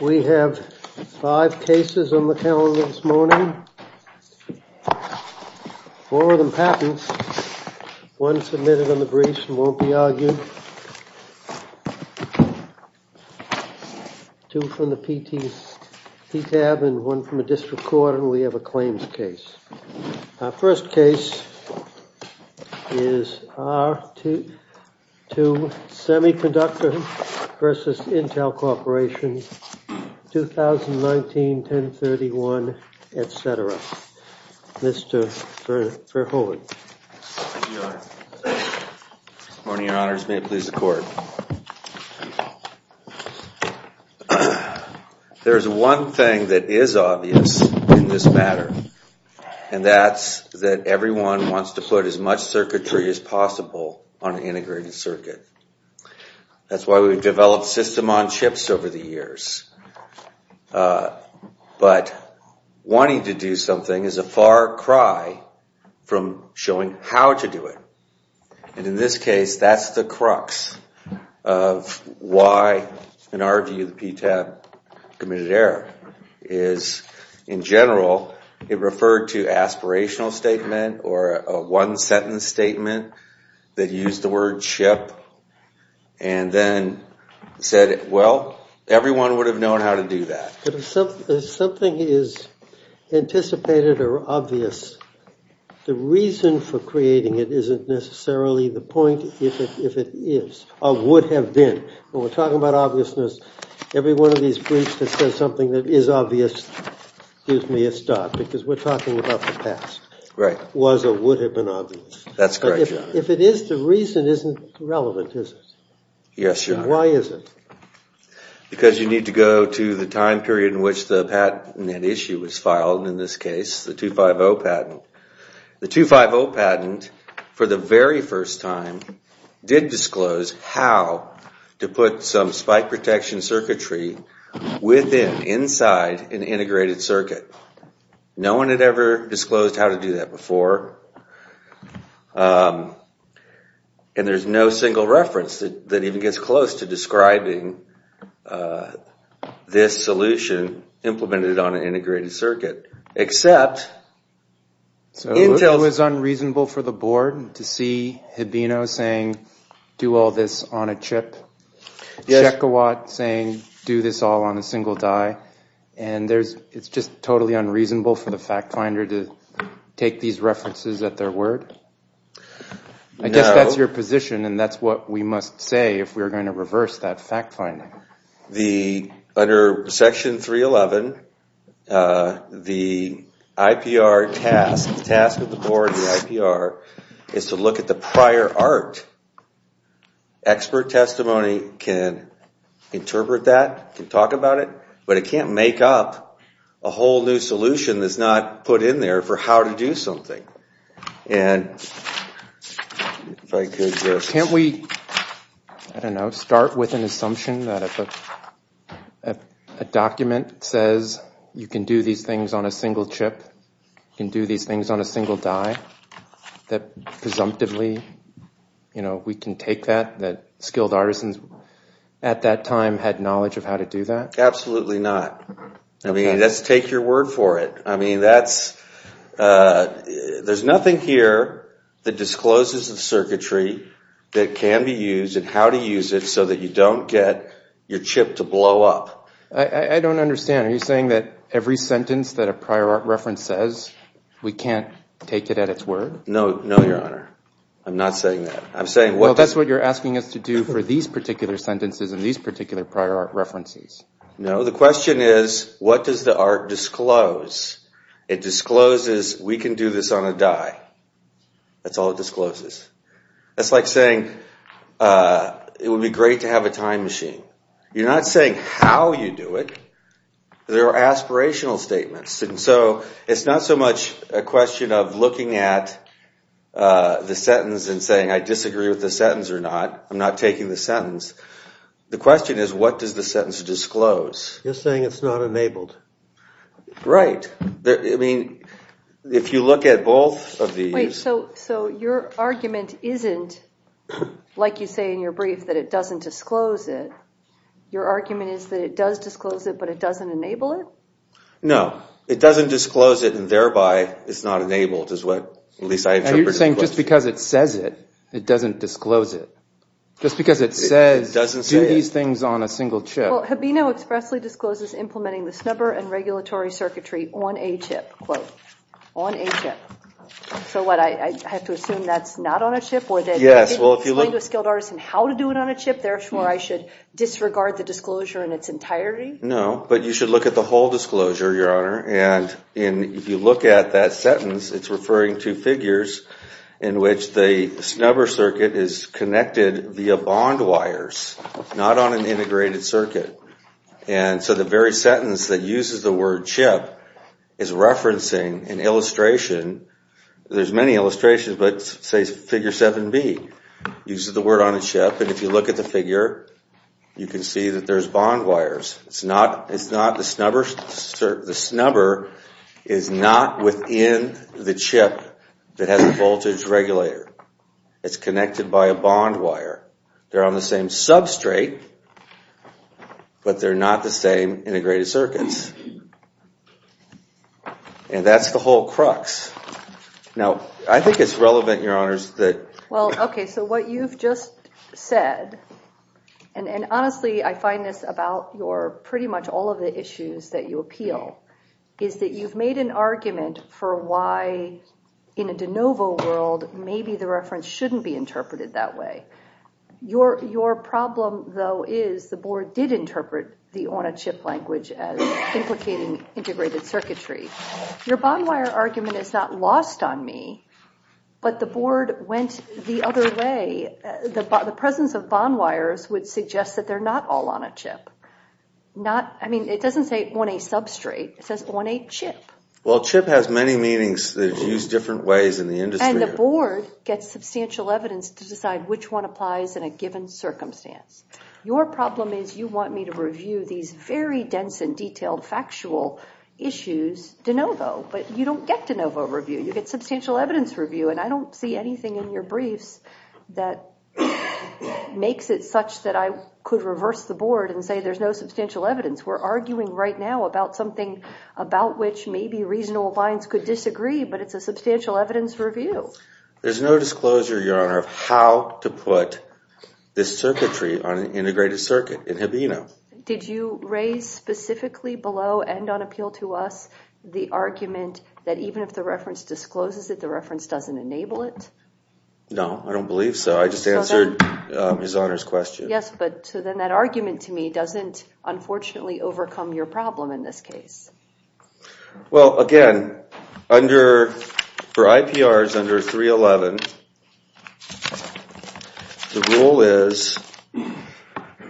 We have 5 cases on the calendar this morning, 4 of them patents, 1 submitted on the brief and 1 from a district court and we have a claims case. Our first case is R2 Semiconductor v. Intel Corporation, 2019-1031, etc. Mr. Fairholtz. Good morning, your honors. May it please the court. There is one thing that is obvious in this matter, and that's that everyone wants to put as much circuitry as possible on an integrated circuit. That's why we've developed system-on-chips over the years. But wanting to do something is a far cry from showing how to do it. And in this case, that's the crux of why an RGU PTAB committed error. In general, it referred to aspirational statement or a one-sentence statement that used the word chip. And then said, well, everyone would have known how to do that. But if something is anticipated or obvious, the reason for creating it isn't necessarily the point if it is or would have been. When we're talking about obviousness, every one of these briefs that says something that is obvious gives me a start because we're talking about the past. Was or would have been obvious. That's correct, your honor. If it is, the reason isn't relevant, is it? Yes, your honor. Why is it? Because you need to go to the time period in which the patent issue was filed, in this case, the 250 patent. The 250 patent, for the very first time, did disclose how to put some spike protection circuitry within, inside, an integrated circuit. No one had ever disclosed how to do that before. And there's no single reference that even gets close to describing this solution implemented on an integrated circuit, except Intel. So it was unreasonable for the board to see Hibino saying, do all this on a chip? Yes. Shekawat saying, do this all on a single die. And it's just totally unreasonable for the fact finder to take these references at their word? I guess that's your position, and that's what we must say if we're going to reverse that fact finding. Under Section 311, the IPR task, the task of the board, the IPR, is to look at the prior art. Expert testimony can interpret that, can talk about it, but it can't make up a whole new solution that's not put in there for how to do something. Can't we, I don't know, start with an assumption that if a document says you can do these things on a single chip, you can do these things on a single die, that presumptively, you know, we can take that, that skilled artisans at that time had knowledge of how to do that? Absolutely not. I mean, let's take your word for it. I mean, that's, there's nothing here that discloses the circuitry that can be used and how to use it so that you don't get your chip to blow up. I don't understand. Are you saying that every sentence that a prior art reference says, we can't take it at its word? No, no, Your Honor. I'm not saying that. Well, that's what you're asking us to do for these particular sentences and these particular prior art references. No, the question is, what does the art disclose? It discloses we can do this on a die. That's all it discloses. That's like saying it would be great to have a time machine. You're not saying how you do it. They're aspirational statements. And so it's not so much a question of looking at the sentence and saying, I disagree with the sentence or not. I'm not taking the sentence. The question is, what does the sentence disclose? You're saying it's not enabled. Right. I mean, if you look at both of these. So your argument isn't, like you say in your brief, that it doesn't disclose it. Your argument is that it does disclose it, but it doesn't enable it? No. It doesn't disclose it, and thereby, it's not enabled, is what at least I interpreted the question. And you're saying just because it says it, it doesn't disclose it? Just because it says do these things on a single chip. Well, Habino expressly discloses implementing the snubber and regulatory circuitry on a chip, quote, on a chip. So what? I have to assume that's not on a chip? Yes. Well, if you explain to a skilled artist how to do it on a chip, therefore, I should disregard the disclosure in its entirety? No. But you should look at the whole disclosure, Your Honor. And if you look at that sentence, it's referring to figures in which the snubber circuit is connected via bond wires, not on an integrated circuit. And so the very sentence that uses the word chip is referencing an illustration. There's many illustrations, but say figure 7B uses the word on a chip. And if you look at the figure, you can see that there's bond wires. It's not the snubber. The snubber is not within the chip that has a voltage regulator. It's connected by a bond wire. They're on the same substrate, but they're not the same integrated circuits. And that's the whole crux. Now, I think it's relevant, Your Honors, that... Well, OK, so what you've just said, and honestly, I find this about your pretty much all of the issues that you appeal, is that you've made an argument for why in a de novo world maybe the reference shouldn't be interpreted that way. But your problem, though, is the board did interpret the on a chip language as implicating integrated circuitry. Your bond wire argument is not lost on me, but the board went the other way. The presence of bond wires would suggest that they're not all on a chip. I mean, it doesn't say on a substrate. It says on a chip. Well, chip has many meanings that use different ways in the industry. And the board gets substantial evidence to decide which one applies in a given circumstance. Your problem is you want me to review these very dense and detailed factual issues de novo. But you don't get de novo review. You get substantial evidence review. And I don't see anything in your briefs that makes it such that I could reverse the board and say there's no substantial evidence. We're arguing right now about something about which maybe reasonable minds could disagree. But it's a substantial evidence review. There's no disclosure, your honor, of how to put this circuitry on an integrated circuit. It had been. Did you raise specifically below and on appeal to us the argument that even if the reference discloses that the reference doesn't enable it? No, I don't believe so. I just answered his honor's question. Yes, but then that argument to me doesn't unfortunately overcome your problem in this case. Well, again, for IPRs under 311, the rule is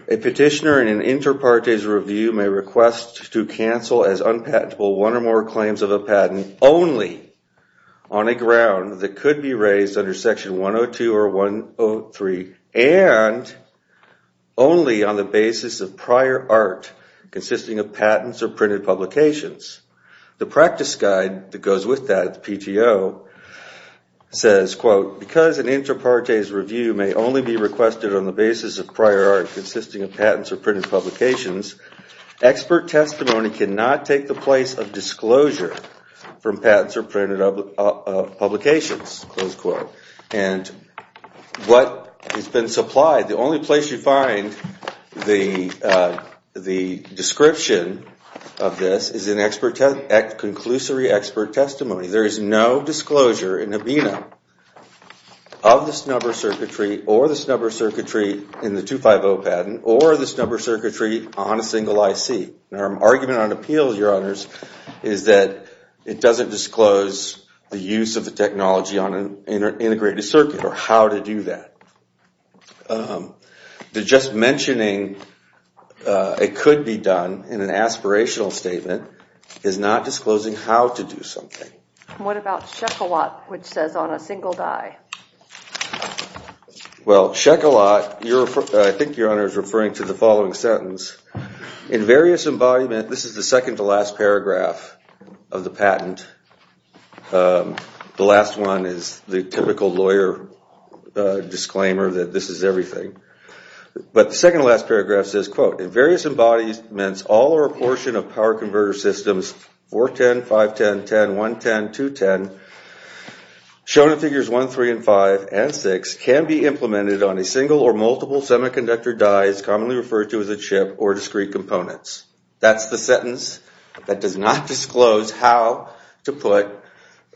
a petitioner in an inter partes review may request to cancel as unpatentable one or more claims of a patent only on a ground that could be raised under section 102 or 103 and only on the basis of prior art consisting of patents or printed publications. The practice guide that goes with that, the PTO, says, quote, because an inter partes review may only be requested on the basis of prior art consisting of patents or printed publications, expert testimony cannot take the place of disclosure from patents or printed publications, close quote. And what has been supplied, the only place you find the description of this is in conclusory expert testimony. There is no disclosure in ABINA of this number circuitry or this number circuitry in the 250 patent or this number circuitry on a single IC. And our argument on appeals, your honors, is that it doesn't disclose the use of the technology on an integrated circuit or how to do that. The just mentioning it could be done in an aspirational statement is not disclosing how to do something. What about Shekelot, which says on a single die? Well, Shekelot, I think your honor is referring to the following sentence. In various embodiments, this is the second to last paragraph of the patent. The last one is the typical lawyer disclaimer that this is everything. But the second to last paragraph says, quote, in various embodiments, all or a portion of power converter systems, 410, 510, 10, 110, 210, shown in figures 1, 3, and 5, and 6, can be implemented on a single or multiple semiconductor die as commonly referred to as a chip or discrete components. That's the sentence that does not disclose how to put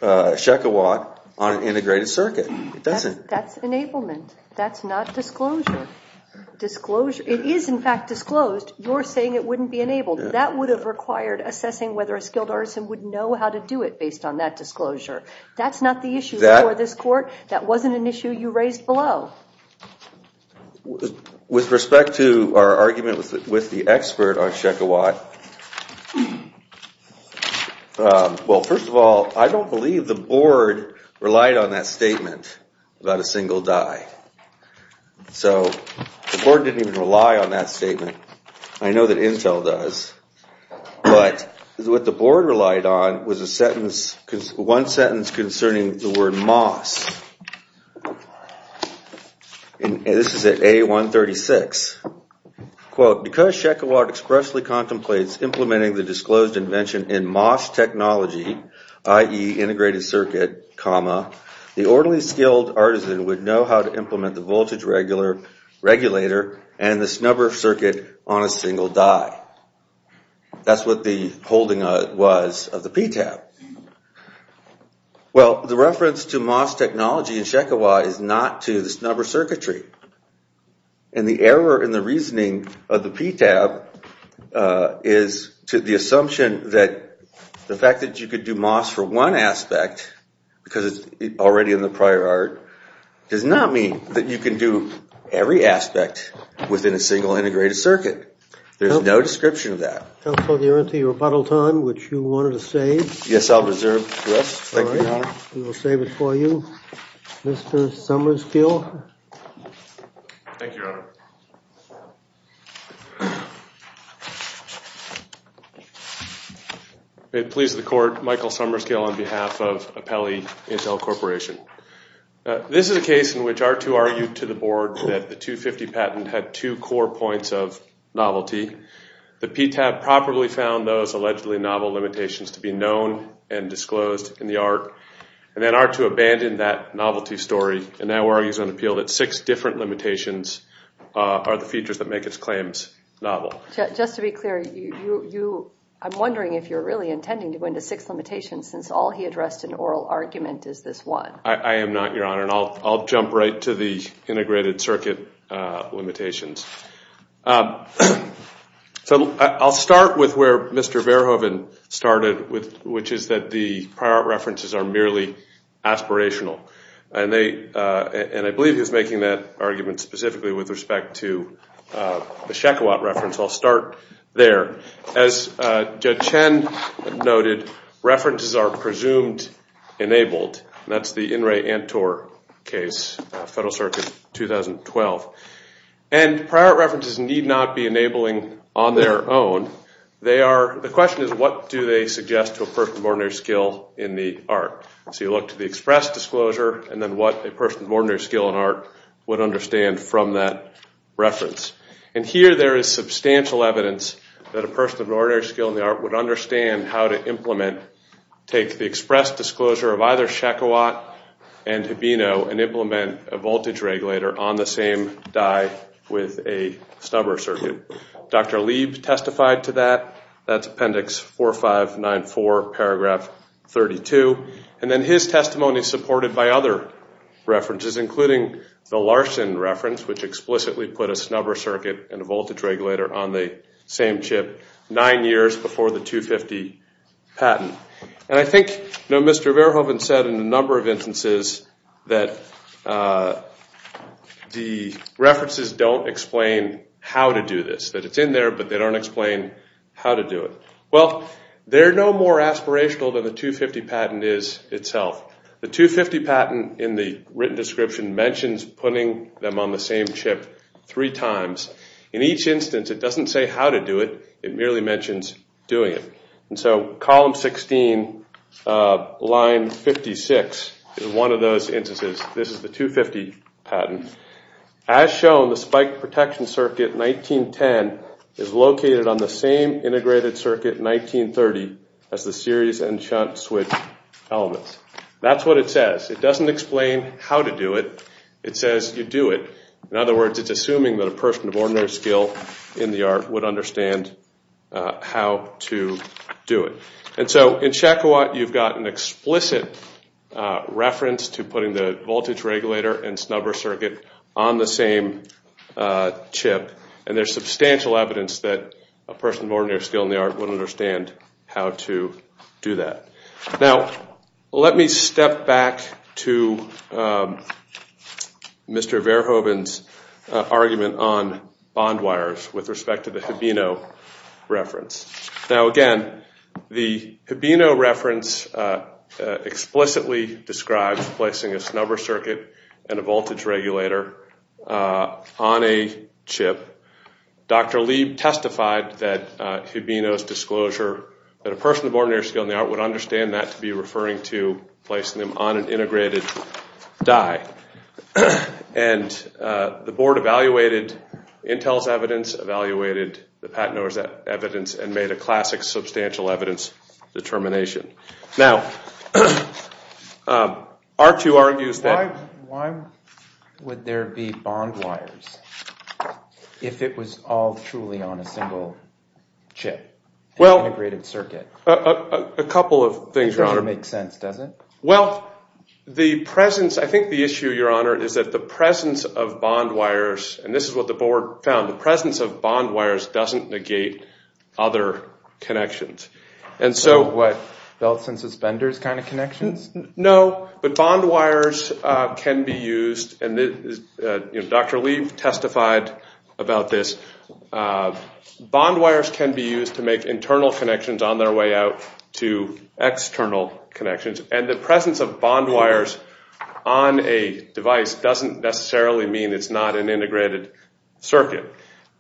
Shekelot on an integrated circuit. It doesn't. That's enablement. That's not disclosure. It is, in fact, disclosed. You're saying it wouldn't be enabled. That would have required assessing whether a skilled artisan would know how to do it based on that disclosure. That's not the issue for this court. That wasn't an issue you raised below. With respect to our argument with the expert on Shekelot, well, first of all, I don't believe the board relied on that statement about a single die. So the board didn't even rely on that statement. I know that Intel does. But what the board relied on was one sentence concerning the word MOS. And this is at A136. Quote, because Shekelot expressly contemplates implementing the disclosed invention in MOS technology, i.e. on a single die. That's what the holding was of the PTAB. Well, the reference to MOS technology in Shekelot is not to the snubber circuitry. And the error in the reasoning of the PTAB is to the assumption that the fact that you could do MOS for one aspect, because it's already in the prior art, does not mean that you can do every aspect within a single integrated circuit. There's no description of that. Counsel, you're into your rebuttal time, which you wanted to save. Yes, I'll reserve to us. Thank you, Your Honor. We'll save it for you. Mr. Summerskill. Thank you, Your Honor. May it please the court, Michael Summerskill on behalf of Apelli Intel Corporation. This is a case in which R2 argued to the board that the 250 patent had two core points of novelty. The PTAB properly found those allegedly novel limitations to be known and disclosed in the art, and then R2 abandoned that novelty story and now argues on appeal that six different limitations are the features that make it Just to be clear, I'm wondering if you're really intending to go into six limitations, since all he addressed in oral argument is this one. I am not, Your Honor, and I'll jump right to the integrated circuit limitations. So I'll start with where Mr. Verhoeven started, which is that the prior art references are merely aspirational. And I believe he was making that argument specifically with respect to the Shekowat reference. I'll start there. As Judge Chen noted, references are presumed enabled. That's the In Re Antor case, Federal Circuit 2012. And prior art references need not be enabling on their own. The question is, what do they suggest to a person of ordinary skill in the art? So you look to the express disclosure and then what a person of ordinary skill in art would understand from that reference. And here there is substantial evidence that a person of ordinary skill in the art would understand how to implement, take the express disclosure of either Shekowat and Hibino and implement a voltage regulator on the same die with a snubber circuit. Dr. Lieb testified to that. That's Appendix 4594, paragraph 32. And then his testimony is supported by other references, including the Larson reference, which explicitly put a snubber circuit and a voltage regulator on the same chip nine years before the 250 patent. And I think Mr. Verhoeven said in a number of instances that the references don't explain how to do this, that it's in there but they don't explain how to do it. Well, they're no more aspirational than the 250 patent is itself. The 250 patent in the written description mentions putting them on the same chip three times. In each instance, it doesn't say how to do it. It merely mentions doing it. And so column 16, line 56 is one of those instances. This is the 250 patent. As shown, the spike protection circuit 1910 is located on the same integrated circuit 1930 as the series and shunt switch elements. That's what it says. It doesn't explain how to do it. It says you do it. In other words, it's assuming that a person of ordinary skill in the art would understand how to do it. And so in Shakowat, you've got an explicit reference to putting the voltage regulator and snubber circuit on the same chip. And there's substantial evidence that a person of ordinary skill in the art would understand how to do that. Now, let me step back to Mr. Verhoeven's argument on bond wires with respect to the Hibino reference. Now, again, the Hibino reference explicitly describes placing a snubber circuit and a voltage regulator on a chip. Dr. Lieb testified that Hibino's disclosure that a person of ordinary skill in the art would understand that to be referring to placing them on an integrated die. And the board evaluated Intel's evidence, evaluated the patent owner's evidence, and made a classic substantial evidence determination. Now, R2 argues that— Why would there be bond wires if it was all truly on a single chip, an integrated circuit? A couple of things, Your Honor. It doesn't make sense, does it? Well, the presence—I think the issue, Your Honor, is that the presence of bond wires—and this is what the board found. The presence of bond wires doesn't negate other connections. So what, belts and suspenders kind of connections? No, but bond wires can be used, and Dr. Lieb testified about this. Bond wires can be used to make internal connections on their way out to external connections. And the presence of bond wires on a device doesn't necessarily mean it's not an integrated circuit.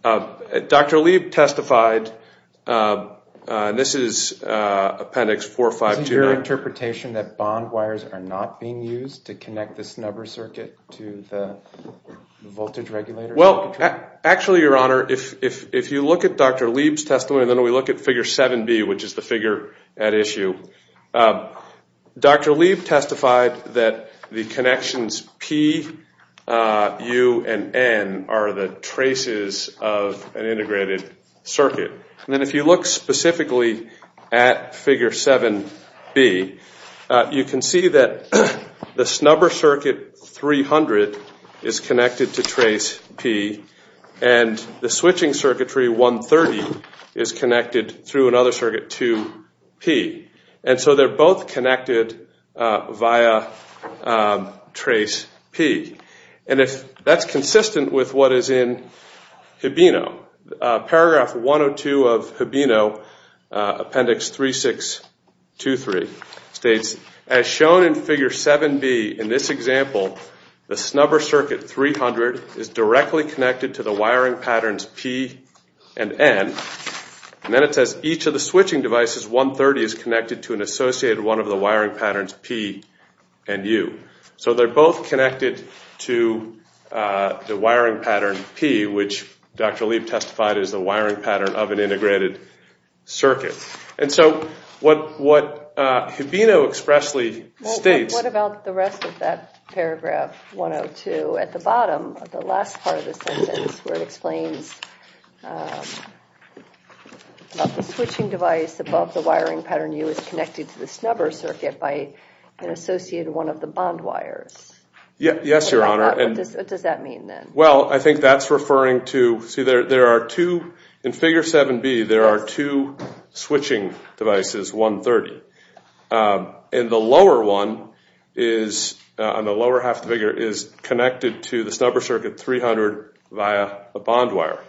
Dr. Lieb testified—and this is Appendix 4529. Isn't your interpretation that bond wires are not being used to connect the snubber circuit to the voltage regulator? Well, actually, Your Honor, if you look at Dr. Lieb's testimony, and then we look at Figure 7B, which is the figure at issue, Dr. Lieb testified that the connections P, U, and N are the traces of an integrated circuit. And then if you look specifically at Figure 7B, you can see that the snubber circuit 300 is connected to trace P, and the switching circuitry 130 is connected through another circuit to P. And so they're both connected via trace P. And that's consistent with what is in Hibino. Paragraph 102 of Hibino, Appendix 3623, states, As shown in Figure 7B in this example, the snubber circuit 300 is directly connected to the wiring patterns P and N. And then it says each of the switching devices 130 is connected to an associated one of the wiring patterns P and U. So they're both connected to the wiring pattern P, which Dr. Lieb testified is the wiring pattern of an integrated circuit. And so what Hibino expressly states- What about the rest of that paragraph 102 at the bottom of the last part of the sentence, where it explains about the switching device above the wiring pattern U is connected to the snubber circuit by an associated one of the bond wires? Yes, Your Honor. What does that mean, then? Well, I think that's referring to- See, there are two- In Figure 7B, there are two switching devices, 130. And the lower one on the lower half of the figure is connected to the snubber circuit 300 via a bond wire.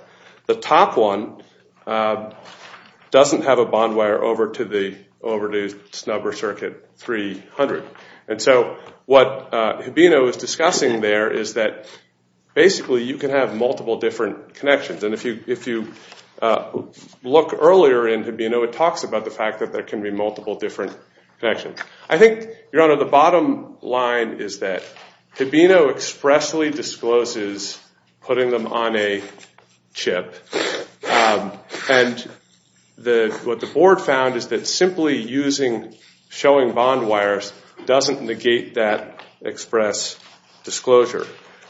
The top one doesn't have a bond wire over to the snubber circuit 300. And so what Hibino is discussing there is that basically you can have multiple different connections. And if you look earlier in Hibino, it talks about the fact that there can be multiple different connections. I think, Your Honor, the bottom line is that Hibino expressly discloses putting them on a chip. And what the board found is that simply showing bond wires doesn't negate that express disclosure.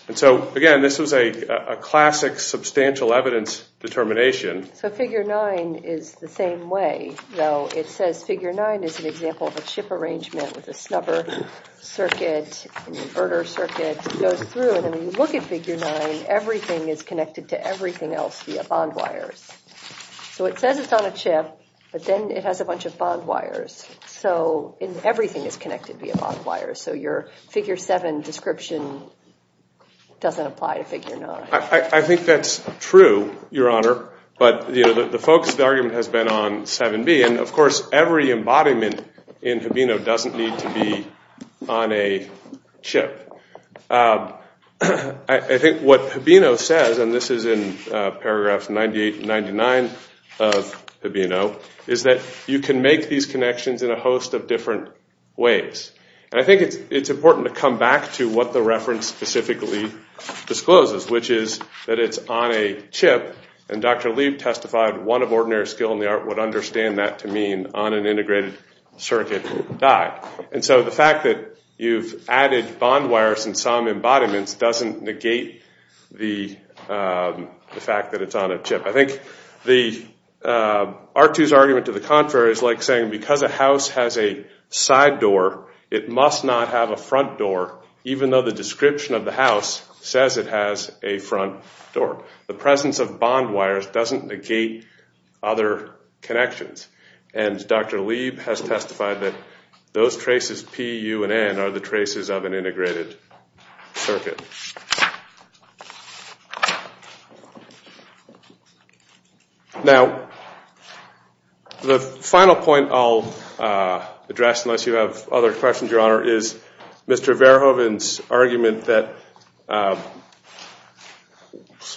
And so, again, this was a classic substantial evidence determination. So Figure 9 is the same way, though. It says Figure 9 is an example of a chip arrangement with a snubber circuit and inverter circuit. It goes through, and then when you look at Figure 9, everything is connected to everything else via bond wires. So it says it's on a chip, but then it has a bunch of bond wires. So everything is connected via bond wires. So your Figure 7 description doesn't apply to Figure 9. I think that's true, Your Honor, but the focus of the argument has been on 7B. And, of course, every embodiment in Hibino doesn't need to be on a chip. I think what Hibino says, and this is in paragraphs 98 and 99 of Hibino, is that you can make these connections in a host of different ways. And I think it's important to come back to what the reference specifically discloses, which is that it's on a chip. And Dr. Lieb testified one of ordinary skill in the art would understand that to mean on an integrated circuit die. And so the fact that you've added bond wires in some embodiments doesn't negate the fact that it's on a chip. I think R2's argument to the contrary is like saying because a house has a side door, it must not have a front door even though the description of the house says it has a front door. The presence of bond wires doesn't negate other connections. And Dr. Lieb has testified that those traces, P, U, and N, are the traces of an integrated circuit. Now, the final point I'll address, unless you have other questions, Your Honor, is Mr. Verhoeven's argument that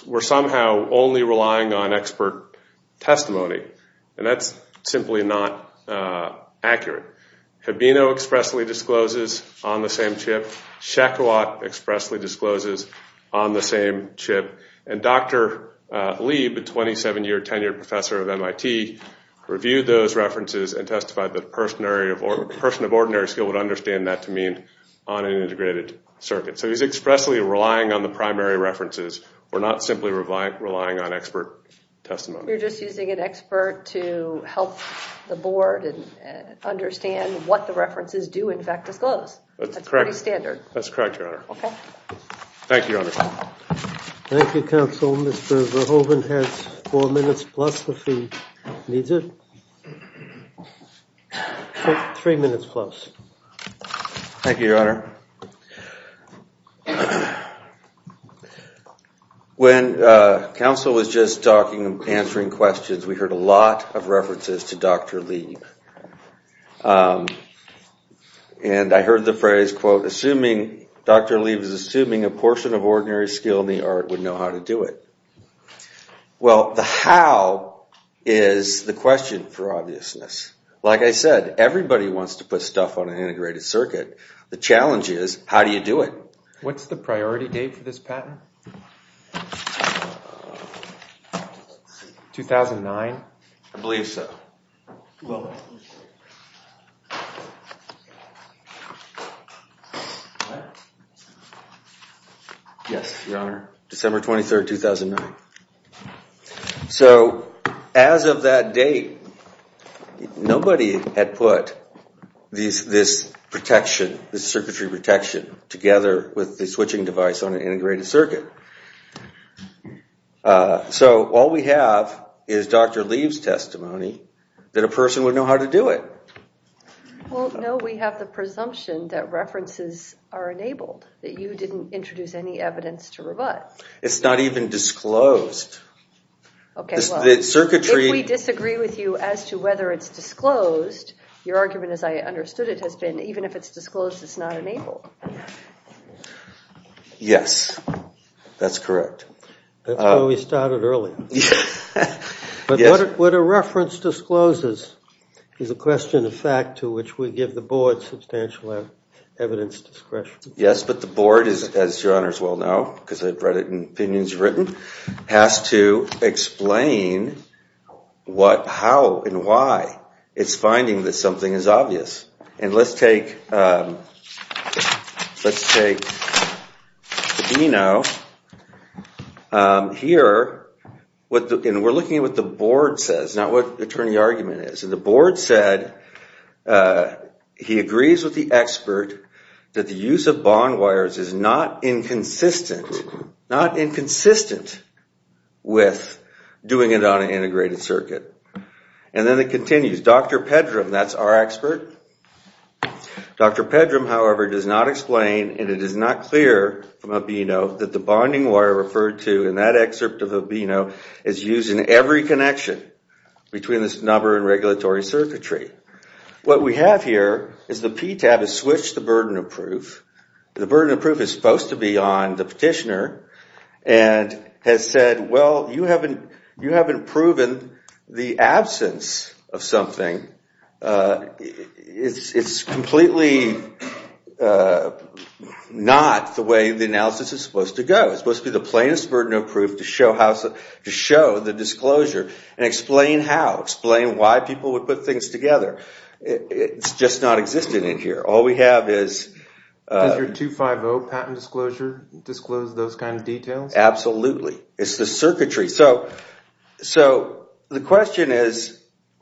we're somehow only relying on expert testimony. And that's simply not accurate. Habino expressly discloses on the same chip. Shakowat expressly discloses on the same chip. And Dr. Lieb, a 27-year tenured professor of MIT, reviewed those references and testified that a person of ordinary skill would understand that to mean on an integrated circuit. So he's expressly relying on the primary references. We're not simply relying on expert testimony. You're just using an expert to help the board understand what the references do in fact disclose. That's pretty standard. That's correct, Your Honor. Okay. Thank you, Your Honor. Thank you, counsel. Mr. Verhoeven has four minutes plus if he needs it. Three minutes plus. Thank you, Your Honor. When counsel was just talking and answering questions, we heard a lot of references to Dr. Lieb. And I heard the phrase, quote, assuming Dr. Lieb is assuming a portion of ordinary skill in the art would know how to do it. Well, the how is the question for obviousness. Like I said, everybody wants to put stuff on an integrated circuit. The challenge is, how do you do it? What's the priority date for this patent? 2009? I believe so. Yes, Your Honor. December 23rd, 2009. So as of that date, nobody had put this protection, this circuitry protection, together with the switching device on an integrated circuit. So all we have is Dr. Lieb's testimony that a person would know how to do it. Well, no, we have the presumption that references are enabled, that you didn't introduce any evidence to rebut. It's not even disclosed. If we disagree with you as to whether it's disclosed, your argument, as I understood it, has been even if it's disclosed, it's not enabled. Yes, that's correct. That's why we started early. But what a reference discloses is a question of fact to which we give the board substantial evidence discretion. Yes, but the board, as Your Honor's well know, because I've read it in opinions written, has to explain what, how, and why it's finding that something is obvious. And let's take Dino here, and we're looking at what the board says, not what the attorney argument is. And the board said he agrees with the expert that the use of bond wires is not inconsistent, not inconsistent with doing it on an integrated circuit. And then it continues. Dr. Pedram, that's our expert. Dr. Pedram, however, does not explain, and it is not clear from Abino that the bonding wire referred to in that excerpt of Abino is used in every connection between this number and regulatory circuitry. What we have here is the PTAB has switched the burden of proof. The burden of proof is supposed to be on the petitioner and has said, well, you haven't proven the absence of something. It's completely not the way the analysis is supposed to go. It's supposed to be the plainest burden of proof to show the disclosure and explain how, explain why people would put things together. It's just not existing in here. Does your 250 patent disclosure disclose those kind of details? Absolutely. It's the circuitry. So the question is,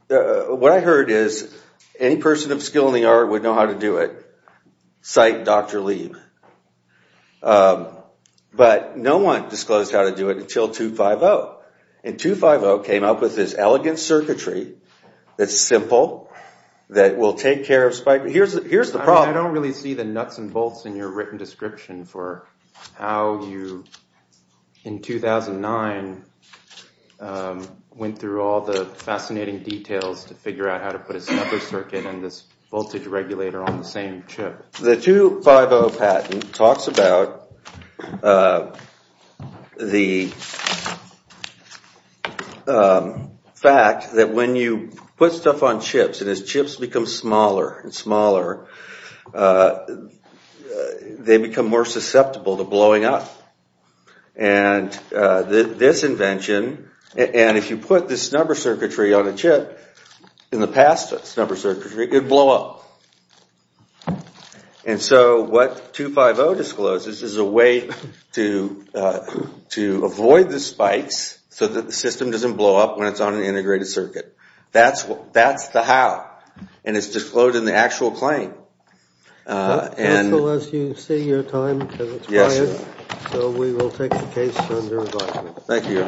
what I heard is any person of skill in the art would know how to do it. Cite Dr. Lieb. But no one disclosed how to do it until 250. And 250 came up with this elegant circuitry that's simple, that will take care of spike. Here's the problem. I don't really see the nuts and bolts in your written description for how you, in 2009, went through all the fascinating details to figure out how to put a snuffer circuit and this voltage regulator on the same chip. The 250 patent talks about the fact that when you put stuff on chips and as chips become smaller and smaller, they become more susceptible to blowing up. And this invention, and if you put this snuffer circuitry on a chip, in the past snuffer circuitry, it would blow up. And so what 250 discloses is a way to avoid the spikes so that the system doesn't blow up when it's on an integrated circuit. That's the how. And it's disclosed in the actual claim. Unless you say your time has expired. So we will take the case under a vote. Thank you.